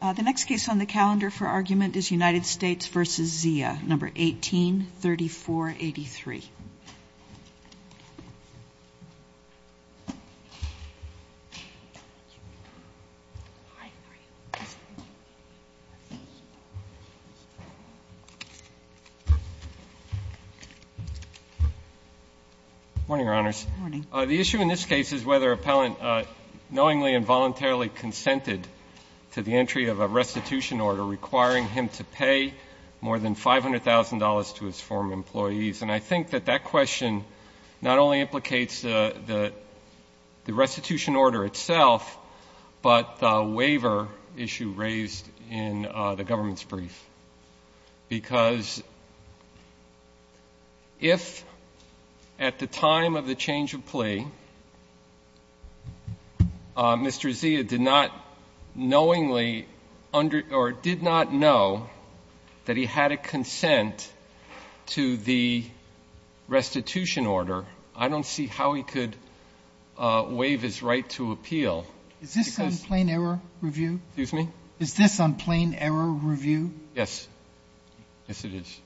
The next case on the calendar for argument is United States v. Zia, No. 18-3483. The issue in this case is whether an appellant knowingly and voluntarily consented to the entry of a restitution order requiring him to pay more than $500,000 to his former employees. And I think that that question not only implicates the restitution order itself, but the waiver issue raised in the government's brief. Because if at the time of the change of plea, Mr. Zia did not knowingly or did not know that he had a consent to the restitution order, I don't see how he could waive his right to appeal. Sotomayor Is this on plain error review? Waxman Excuse me? Sotomayor Is this on plain error review? Waxman Yes. Yes, it is.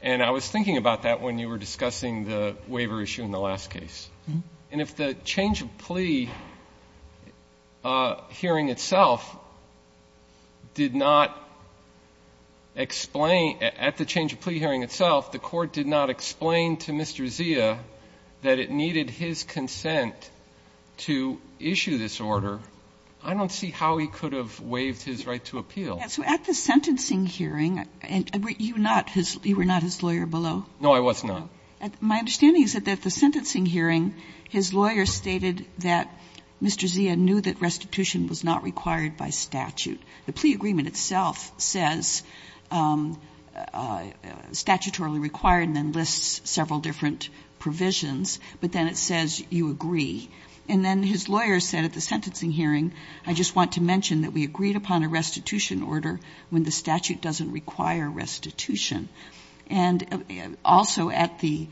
And I was thinking about that when you were discussing the waiver issue in the last case. And if the change of plea hearing itself did not explain at the change of plea hearing itself, the Court did not explain to Mr. Zia that it needed his consent to issue this order, I don't see how he could have waived his right to appeal. Kagan So at the sentencing hearing, you were not his lawyer below? Waxman No, I was not. My understanding is that at the sentencing hearing, his lawyer stated that Mr. Zia knew that restitution was not required by statute. The plea agreement itself says statutorily required and then lists several different provisions, but then it says you agree. And then his lawyer said at the sentencing hearing, I just want to mention that we agreed upon a restitution order when the statute doesn't require restitution. And also at the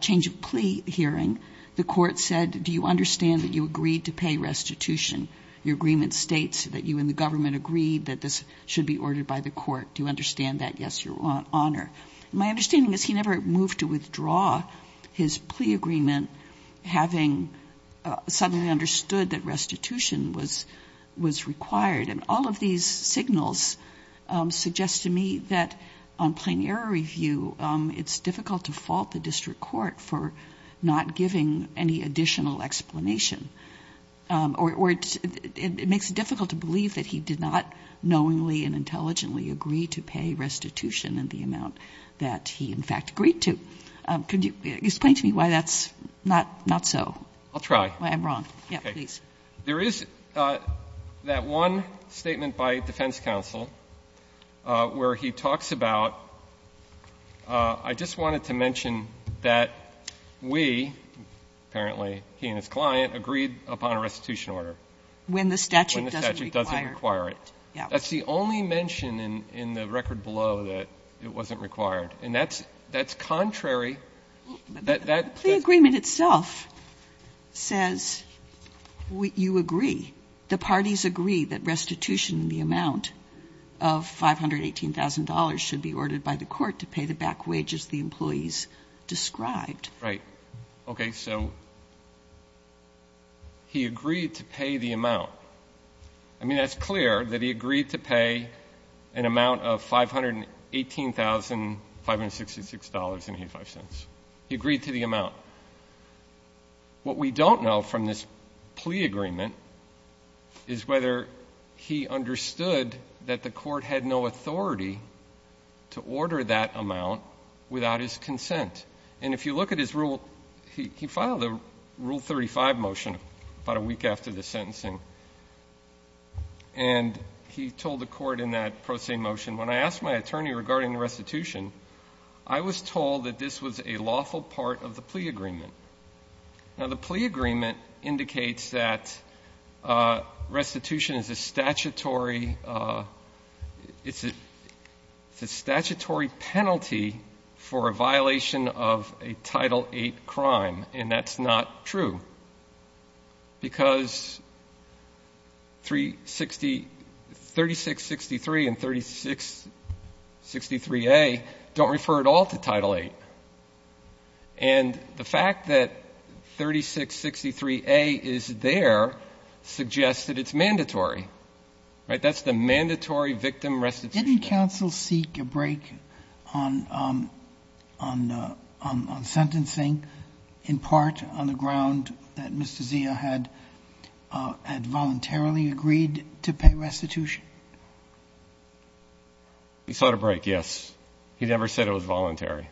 change of plea hearing, the Court said, do you understand that you agreed to pay restitution? Your agreement states that you and the government agreed that this should be ordered by the Court. Do you understand that? Yes, Your Honor. My understanding is he never moved to withdraw his plea agreement, having suddenly understood that restitution was required. And all of these signals suggest to me that on plain error review, it's difficult to fault the district court for not giving any additional explanation, or it makes it difficult to believe that he did not knowingly and intelligently agree to pay restitution in the amount that he, in fact, agreed to. Could you explain to me why that's not so? Waxman I'll try. Kagan I'm wrong. Yes, please. Waxman There is that one statement by defense counsel where he talks about, I just wanted to mention that we, apparently he and his client, agreed upon a restitution order. Kagan When the statute doesn't require it. Waxman When the statute doesn't require it. That's the only mention in the record below that it wasn't required. And that's contrary. Kagan The plea agreement itself says you agree, the parties agree that restitution in the amount of $518,000 should be ordered by the court to pay the back wages the employees described. Waxman Right. Okay. So he agreed to pay the amount. I mean, that's clear that he agreed to pay an amount of $518,566.85. He agreed to the amount. What we don't know from this plea agreement is whether he understood that the court had no authority to order that amount without his consent. And if you look at his rule, he filed a Rule 35 motion about a week after the sentencing. And he told the court in that pro se motion, when I asked my attorney regarding restitution, I was told that this was a lawful part of the plea agreement. Now, the plea agreement indicates that restitution is a statutory penalty for a violation of a Title VIII crime. And that's not true, because 3663 and 3663A don't refer at all to Title VIII. And the fact that 3663A is there suggests that it's mandatory, right? That's the mandatory victim restitution. Didn't counsel seek a break on sentencing in part on the ground that Mr. Zia had voluntarily agreed to pay restitution? He sought a break, yes. He never said it was voluntary.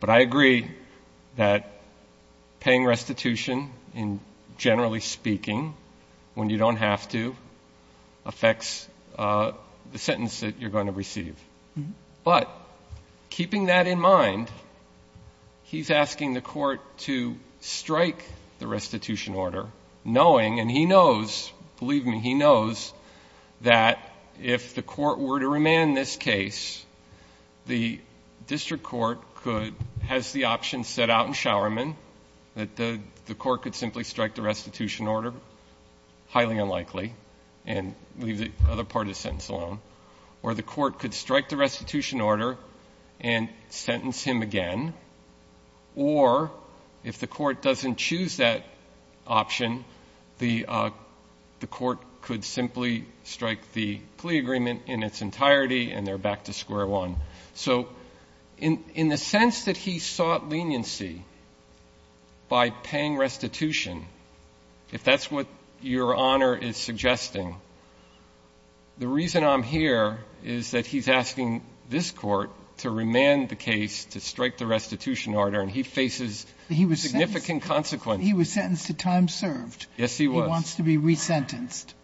But I agree that paying restitution, generally speaking, when you don't have to, affects the sentence that you're going to receive. But keeping that in mind, he's asking the court to strike the restitution order, knowing, and he knows, believe me, he knows, that if the court were to remand this case, the district court could, has the option set out in Showerman that the court could simply strike the restitution order, highly unlikely. And leave the other part of the sentence alone. Or the court could strike the restitution order and sentence him again. Or if the court doesn't choose that option, the court could simply strike the plea agreement in its entirety and they're back to square one. So in the sense that he sought leniency by paying restitution, if that's what your honor is suggesting, the reason I'm here is that he's asking this court to remand the case, to strike the restitution order, and he faces significant consequences. He was sentenced to time served. Yes, he was. He wants to be re-sentenced.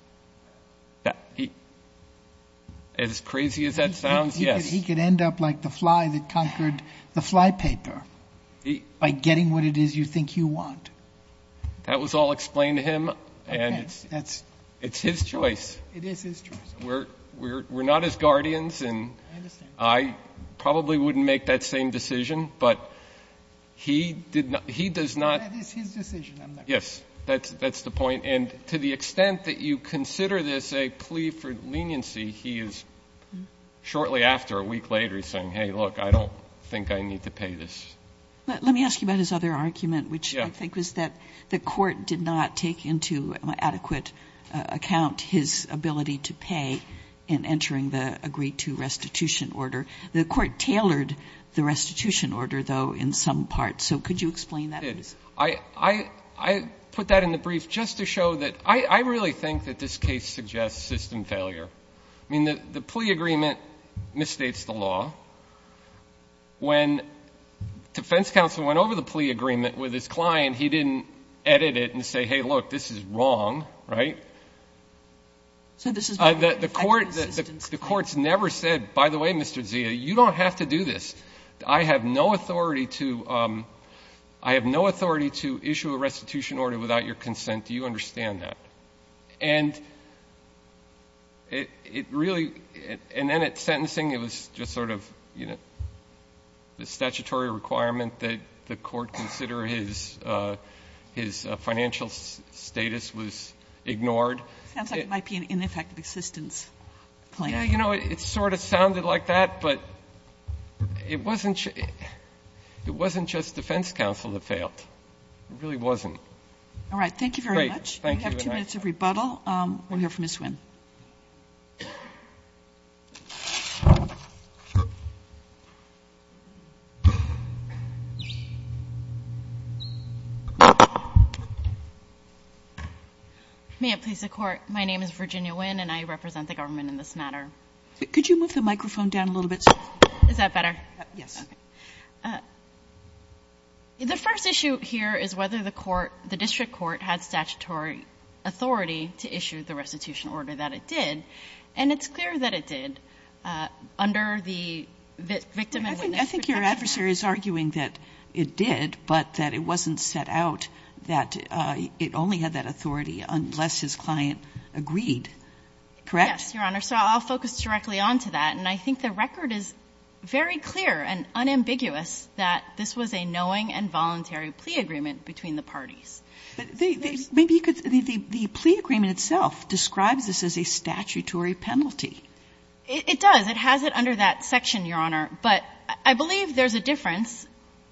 As crazy as that sounds, yes. He could end up like the fly that conquered the flypaper, by getting what it is you think you want. That was all explained to him and it's his choice. It is his choice. We're not his guardians and I probably wouldn't make that same decision, but he does not- That is his decision. Yes, that's the point. And to the extent that you consider this a plea for leniency, he is shortly after, a week later, he's saying, hey, look, I don't think I need to pay this. Let me ask you about his other argument, which I think was that the court did not take into adequate account his ability to pay in entering the agreed to restitution order. The court tailored the restitution order, though, in some parts. So could you explain that? I did. I put that in the brief just to show that I really think that this case suggests system failure. I mean, the plea agreement misstates the law. When defense counsel went over the plea agreement with his client, he didn't edit it and say, hey, look, this is wrong, right? So this is not an effective assistance. The court's never said, by the way, Mr. Zia, you don't have to do this. I have no authority to issue a restitution order without your consent. Do you understand that? And it really, and then at sentencing, it was just sort of the statutory requirement that the court consider his financial status was ignored. Sounds like it might be an ineffective assistance claim. Yeah, it sort of sounded like that, but it wasn't just defense counsel that failed. It really wasn't. All right, thank you very much. We have two minutes of rebuttal. We'll hear from Ms. Nguyen. May it please the Court, my name is Virginia Nguyen, and I represent the government in this matter. Could you move the microphone down a little bit? Is that better? Yes. Okay. The first issue here is whether the court, the district court, had statutory authority to issue the restitution order that it did, and it's clear that it did under the victim and witness protection act. I think your adversary is arguing that it did, but that it wasn't set out that it only had that authority unless his client agreed, correct? Yes, Your Honor. So I'll focus directly onto that, and I think the record is very clear and unambiguous that this was a knowing and voluntary plea agreement between the parties. But maybe you could the plea agreement itself describes this as a statutory penalty. It does. It has it under that section, Your Honor. But I believe there's a difference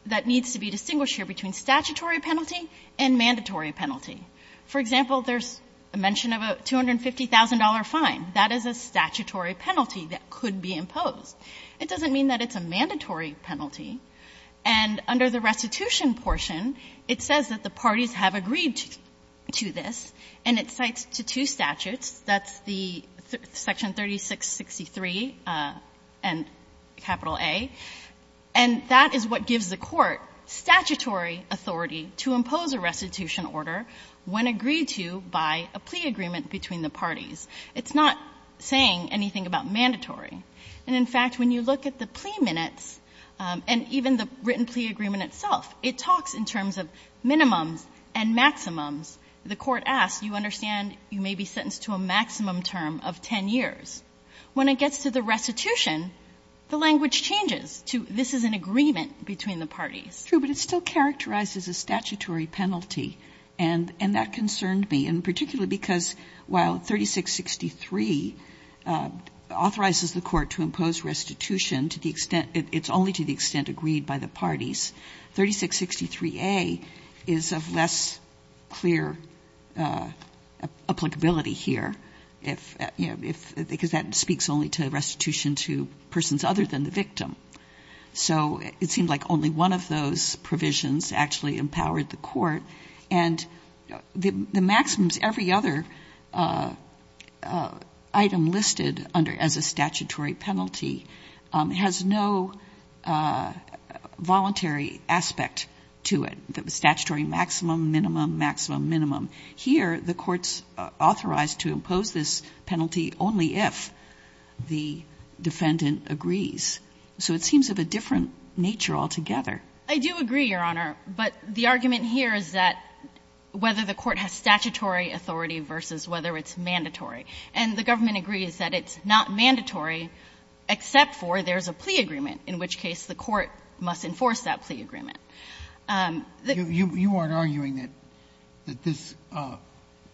that needs to be distinguished here between statutory penalty and mandatory penalty. For example, there's a mention of a $250,000 fine. That is a statutory penalty that could be imposed. It doesn't mean that it's a mandatory penalty. And under the restitution portion, it says that the parties have agreed to this, and it cites to two statutes. That's the section 3663 and capital A. And that is what gives the court statutory authority to impose a restitution order when agreed to by a plea agreement between the parties. It's not saying anything about mandatory. And in fact, when you look at the plea minutes and even the written plea agreement itself, it talks in terms of minimums and maximums. The court asks, you understand you may be sentenced to a maximum term of 10 years. When it gets to the restitution, the language changes to this is an agreement between the parties. True, but it still characterizes a statutory penalty, and that concerned me, and particularly because while 3663 authorizes the court to impose restitution to the extent – it's only to the extent agreed by the parties. 3663A is of less clear applicability here, if – because that speaks only to restitution to persons other than the victim. So it seemed like only one of those provisions actually empowered the court. And the maximums, every other item listed under – as a statutory penalty has no voluntary aspect to it, the statutory maximum, minimum, maximum, minimum. Here, the court's authorized to impose this penalty only if the defendant agrees. So it seems of a different nature altogether. I do agree, Your Honor, but the argument here is that whether the court has statutory authority versus whether it's mandatory. And the government agrees that it's not mandatory except for there's a plea agreement, in which case the court must enforce that plea agreement. You aren't arguing that this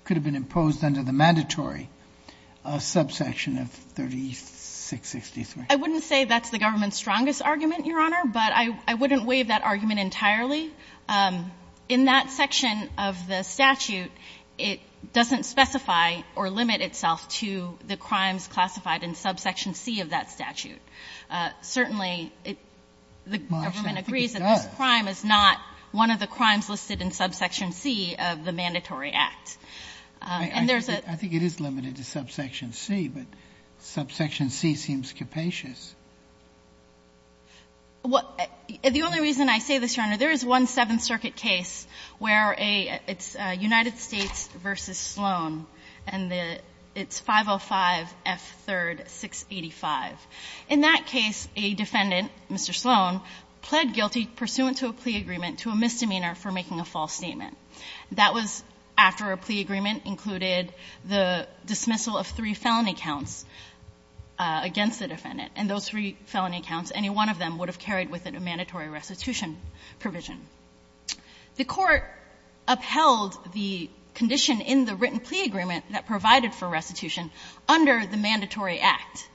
could have been imposed under the mandatory subsection of 3663? I wouldn't say that's the government's strongest argument, Your Honor, but I wouldn't waive that argument entirely. In that section of the statute, it doesn't specify or limit itself to the crimes classified in subsection C of that statute. Certainly, it – the government agrees that this crime is not one of the crimes listed in subsection C of the mandatory act. And there's a – I think it is limited to subsection C, but subsection C seems capacious. The only reason I say this, Your Honor, there is one Seventh Circuit case where it's United States v. Sloan, and it's 505 F. 3rd. 685. In that case, a defendant, Mr. Sloan, pled guilty pursuant to a plea agreement to a misdemeanor for making a false statement. That was after a plea agreement included the dismissal of three felony counts against the defendant, and those three felony counts, any one of them would have carried with it a mandatory restitution provision. The Court upheld the condition in the written plea agreement that provided for restitution under the mandatory act,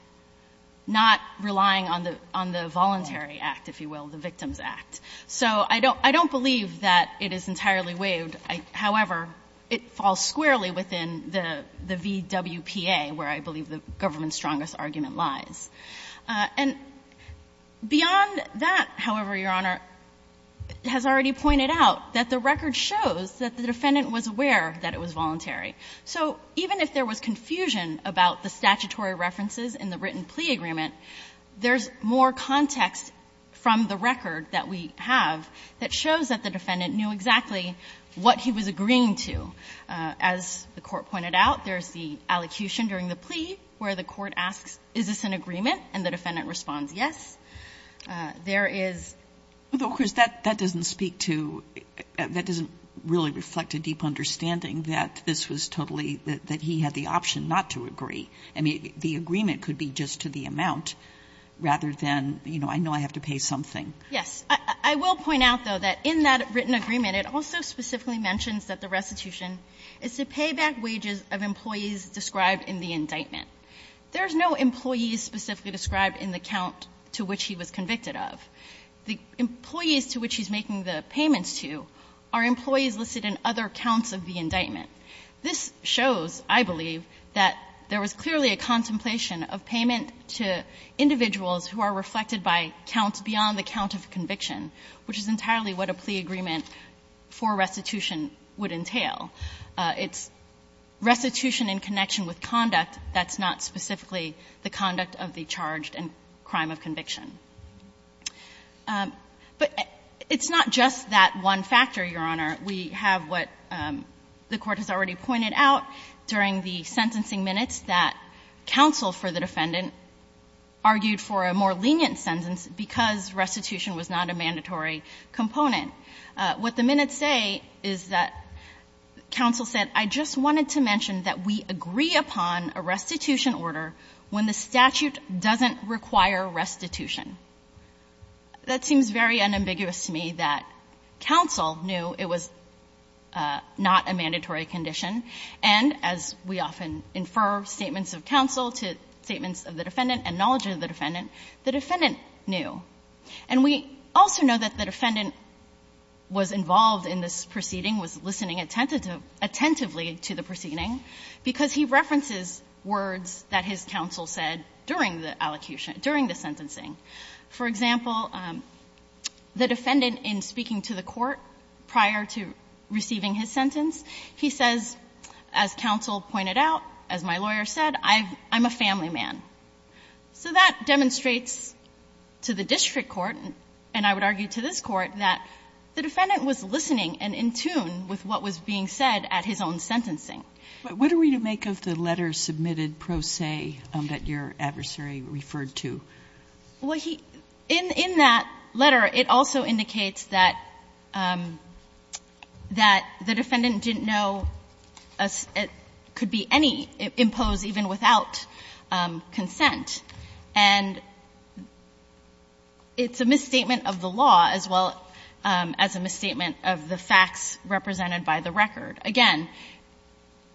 not relying on the voluntary act, if you will, the victim's act. So I don't believe that it is entirely waived. However, it falls squarely within the VWPA, where I believe the government's strongest argument lies. And beyond that, however, Your Honor, it has already pointed out that the record shows that the defendant was aware that it was voluntary. So even if there was confusion about the statutory references in the written plea agreement, there's more context from the record that we have that shows that the defendant knew exactly what he was agreeing to. As the Court pointed out, there's the allocution during the plea where the court asks, is this an agreement, and the defendant responds, yes. There is the case that doesn't speak to, that doesn't really reflect a deep understanding that this was totally, that he had the option not to agree. I mean, the agreement could be just to the amount, rather than, you know, I know I have to pay something. Yes. I will point out, though, that in that written agreement, it also specifically mentions that the restitution is to pay back wages of employees described in the indictment. There's no employees specifically described in the count to which he was convicted of. The employees to which he's making the payments to are employees listed in other counts of the indictment. This shows, I believe, that there was clearly a contemplation of payment to individuals who are reflected by counts beyond the count of conviction, which is entirely what a plea agreement for restitution would entail. It's restitution in connection with conduct that's not specifically the conduct of the charged and crime of conviction. But it's not just that one factor, Your Honor. We have what the Court has already pointed out during the sentencing minutes that counsel for the defendant argued for a more lenient sentence because restitution was not a mandatory component. What the minutes say is that counsel said, I just wanted to mention that we agree upon a restitution order when the statute doesn't require restitution. That seems very unambiguous to me that counsel knew it was not a mandatory condition. And as we often infer statements of counsel to statements of the defendant and knowledge of the defendant, the defendant knew. And we also know that the defendant was involved in this proceeding, was listening attentively to the proceeding, because he references words that his counsel said during the allocation, during the sentencing. For example, the defendant in speaking to the court prior to receiving his sentence, he says, as counsel pointed out, as my lawyer said, I'm a family man. So that demonstrates to the district court, and I would argue to this Court, that the defendant was listening and in tune with what was being said at his own sentencing. But what are we to make of the letter submitted pro se that your adversary referred to? Well, he – in that letter, it also indicates that the defendant didn't know it could be any impose even without consent. And it's a misstatement of the law as well as a misstatement of the facts represented by the record. Again,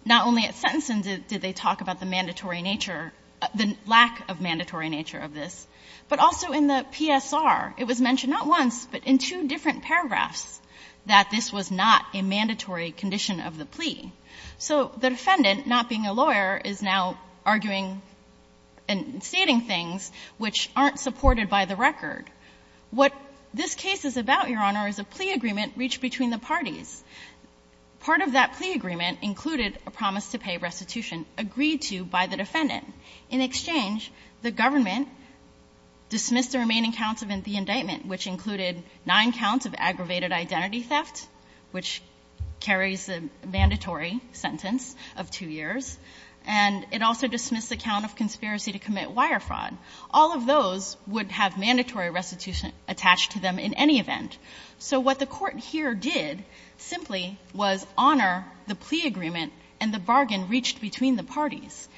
not only at sentencing did they talk about the mandatory nature, the lack of mandatory nature of this, but also in the PSR, it was mentioned not once, but in two different paragraphs, that this was not a mandatory condition of the plea. So the defendant, not being a lawyer, is now arguing and stating things which aren't supported by the record. What this case is about, Your Honor, is a plea agreement reached between the parties. Part of that plea agreement included a promise to pay restitution agreed to by the defendant. In exchange, the government dismissed the remaining counts of the indictment, which included nine counts of aggravated identity theft, which carries a mandatory sentence of two years, and it also dismissed the count of conspiracy to commit wire fraud. All of those would have mandatory restitution attached to them in any event. So what the Court here did simply was honor the plea agreement and the bargain reached between the parties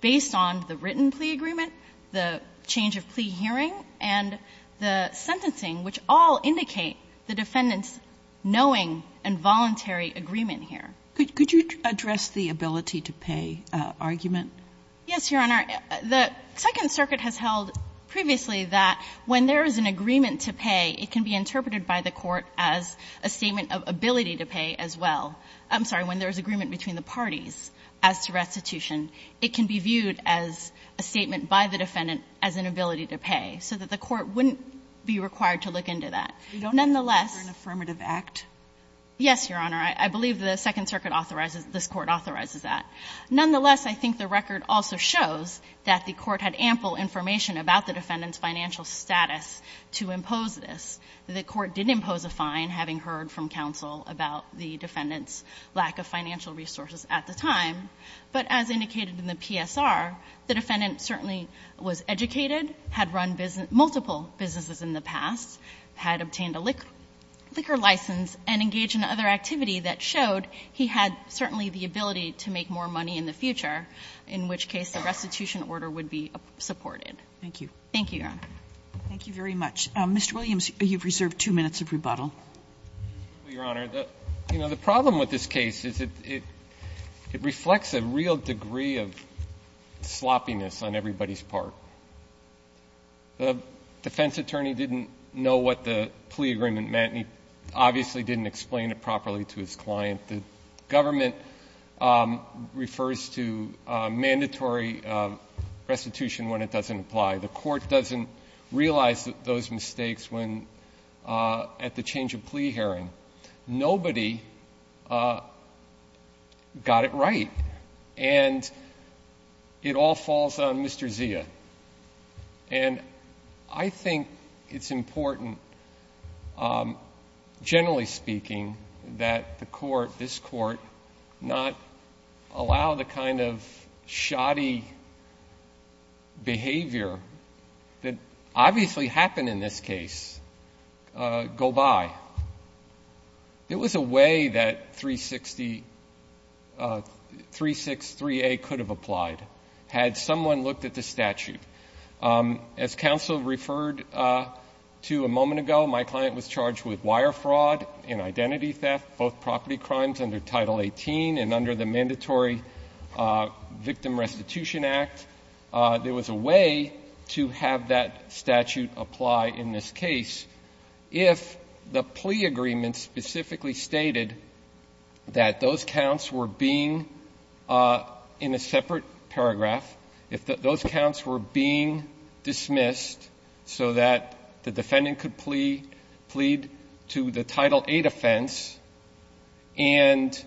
based on the written plea agreement, the change of plea hearing, and the sentencing, which all indicate the defendant's knowing and voluntary agreement here. Could you address the ability to pay argument? Yes, Your Honor. The Second Circuit has held previously that when there is an agreement to pay, it can be interpreted by the Court as a statement of ability to pay as well. I'm sorry. When there is agreement between the parties as to restitution, it can be viewed as a statement by the defendant as an ability to pay, so that the Court wouldn't be required to look into that. Nonetheless We don't have to look for an affirmative act? Yes, Your Honor. I believe the Second Circuit authorizes, this Court authorizes that. Nonetheless, I think the record also shows that the Court had ample information about the defendant's financial status to impose this. The Court didn't impose a fine, having heard from counsel about the defendant's lack of financial resources at the time, but as indicated in the PSR, the defendant certainly was educated, had run multiple businesses in the past, had obtained a liquor license, and engaged in other activity that showed he had certainly the ability to make more money in the future, in which case the restitution order would be supported. Thank you. Thank you, Your Honor. Thank you very much. Mr. Williams, you've reserved 2 minutes of rebuttal. Your Honor, you know, the problem with this case is it reflects a real degree of sloppiness on everybody's part. The defense attorney didn't know what the plea agreement meant. He obviously didn't explain it properly to his client. The government refers to mandatory restitution when it doesn't apply. The Court doesn't realize those mistakes when, at the change of plea hearing. Nobody got it right, and it all falls on Mr. Zia. And I think it's important, generally speaking, that the Court, this Court, not allow the kind of shoddy behavior that obviously happened in this case go by. It was a way that 363A could have applied, had someone looked at the statute. As counsel referred to a moment ago, my client was charged with wire fraud and identity theft, both property crimes under Title 18 and under the Mandatory Victim Restitution Act. There was a way to have that statute apply in this case if the plea agreement specifically stated that those counts were being, in a separate paragraph, if those counts were being dismissed so that the defendant could plead to the Title 8 offense, and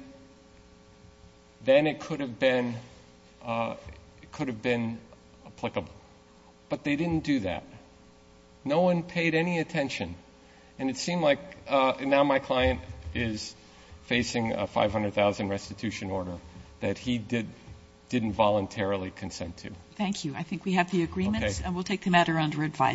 then it could have been applicable. But they didn't do that. No one paid any attention, and it seemed like now my client is facing a 500,000 restitution order that he didn't voluntarily consent to. Thank you. I think we have the agreements. Okay.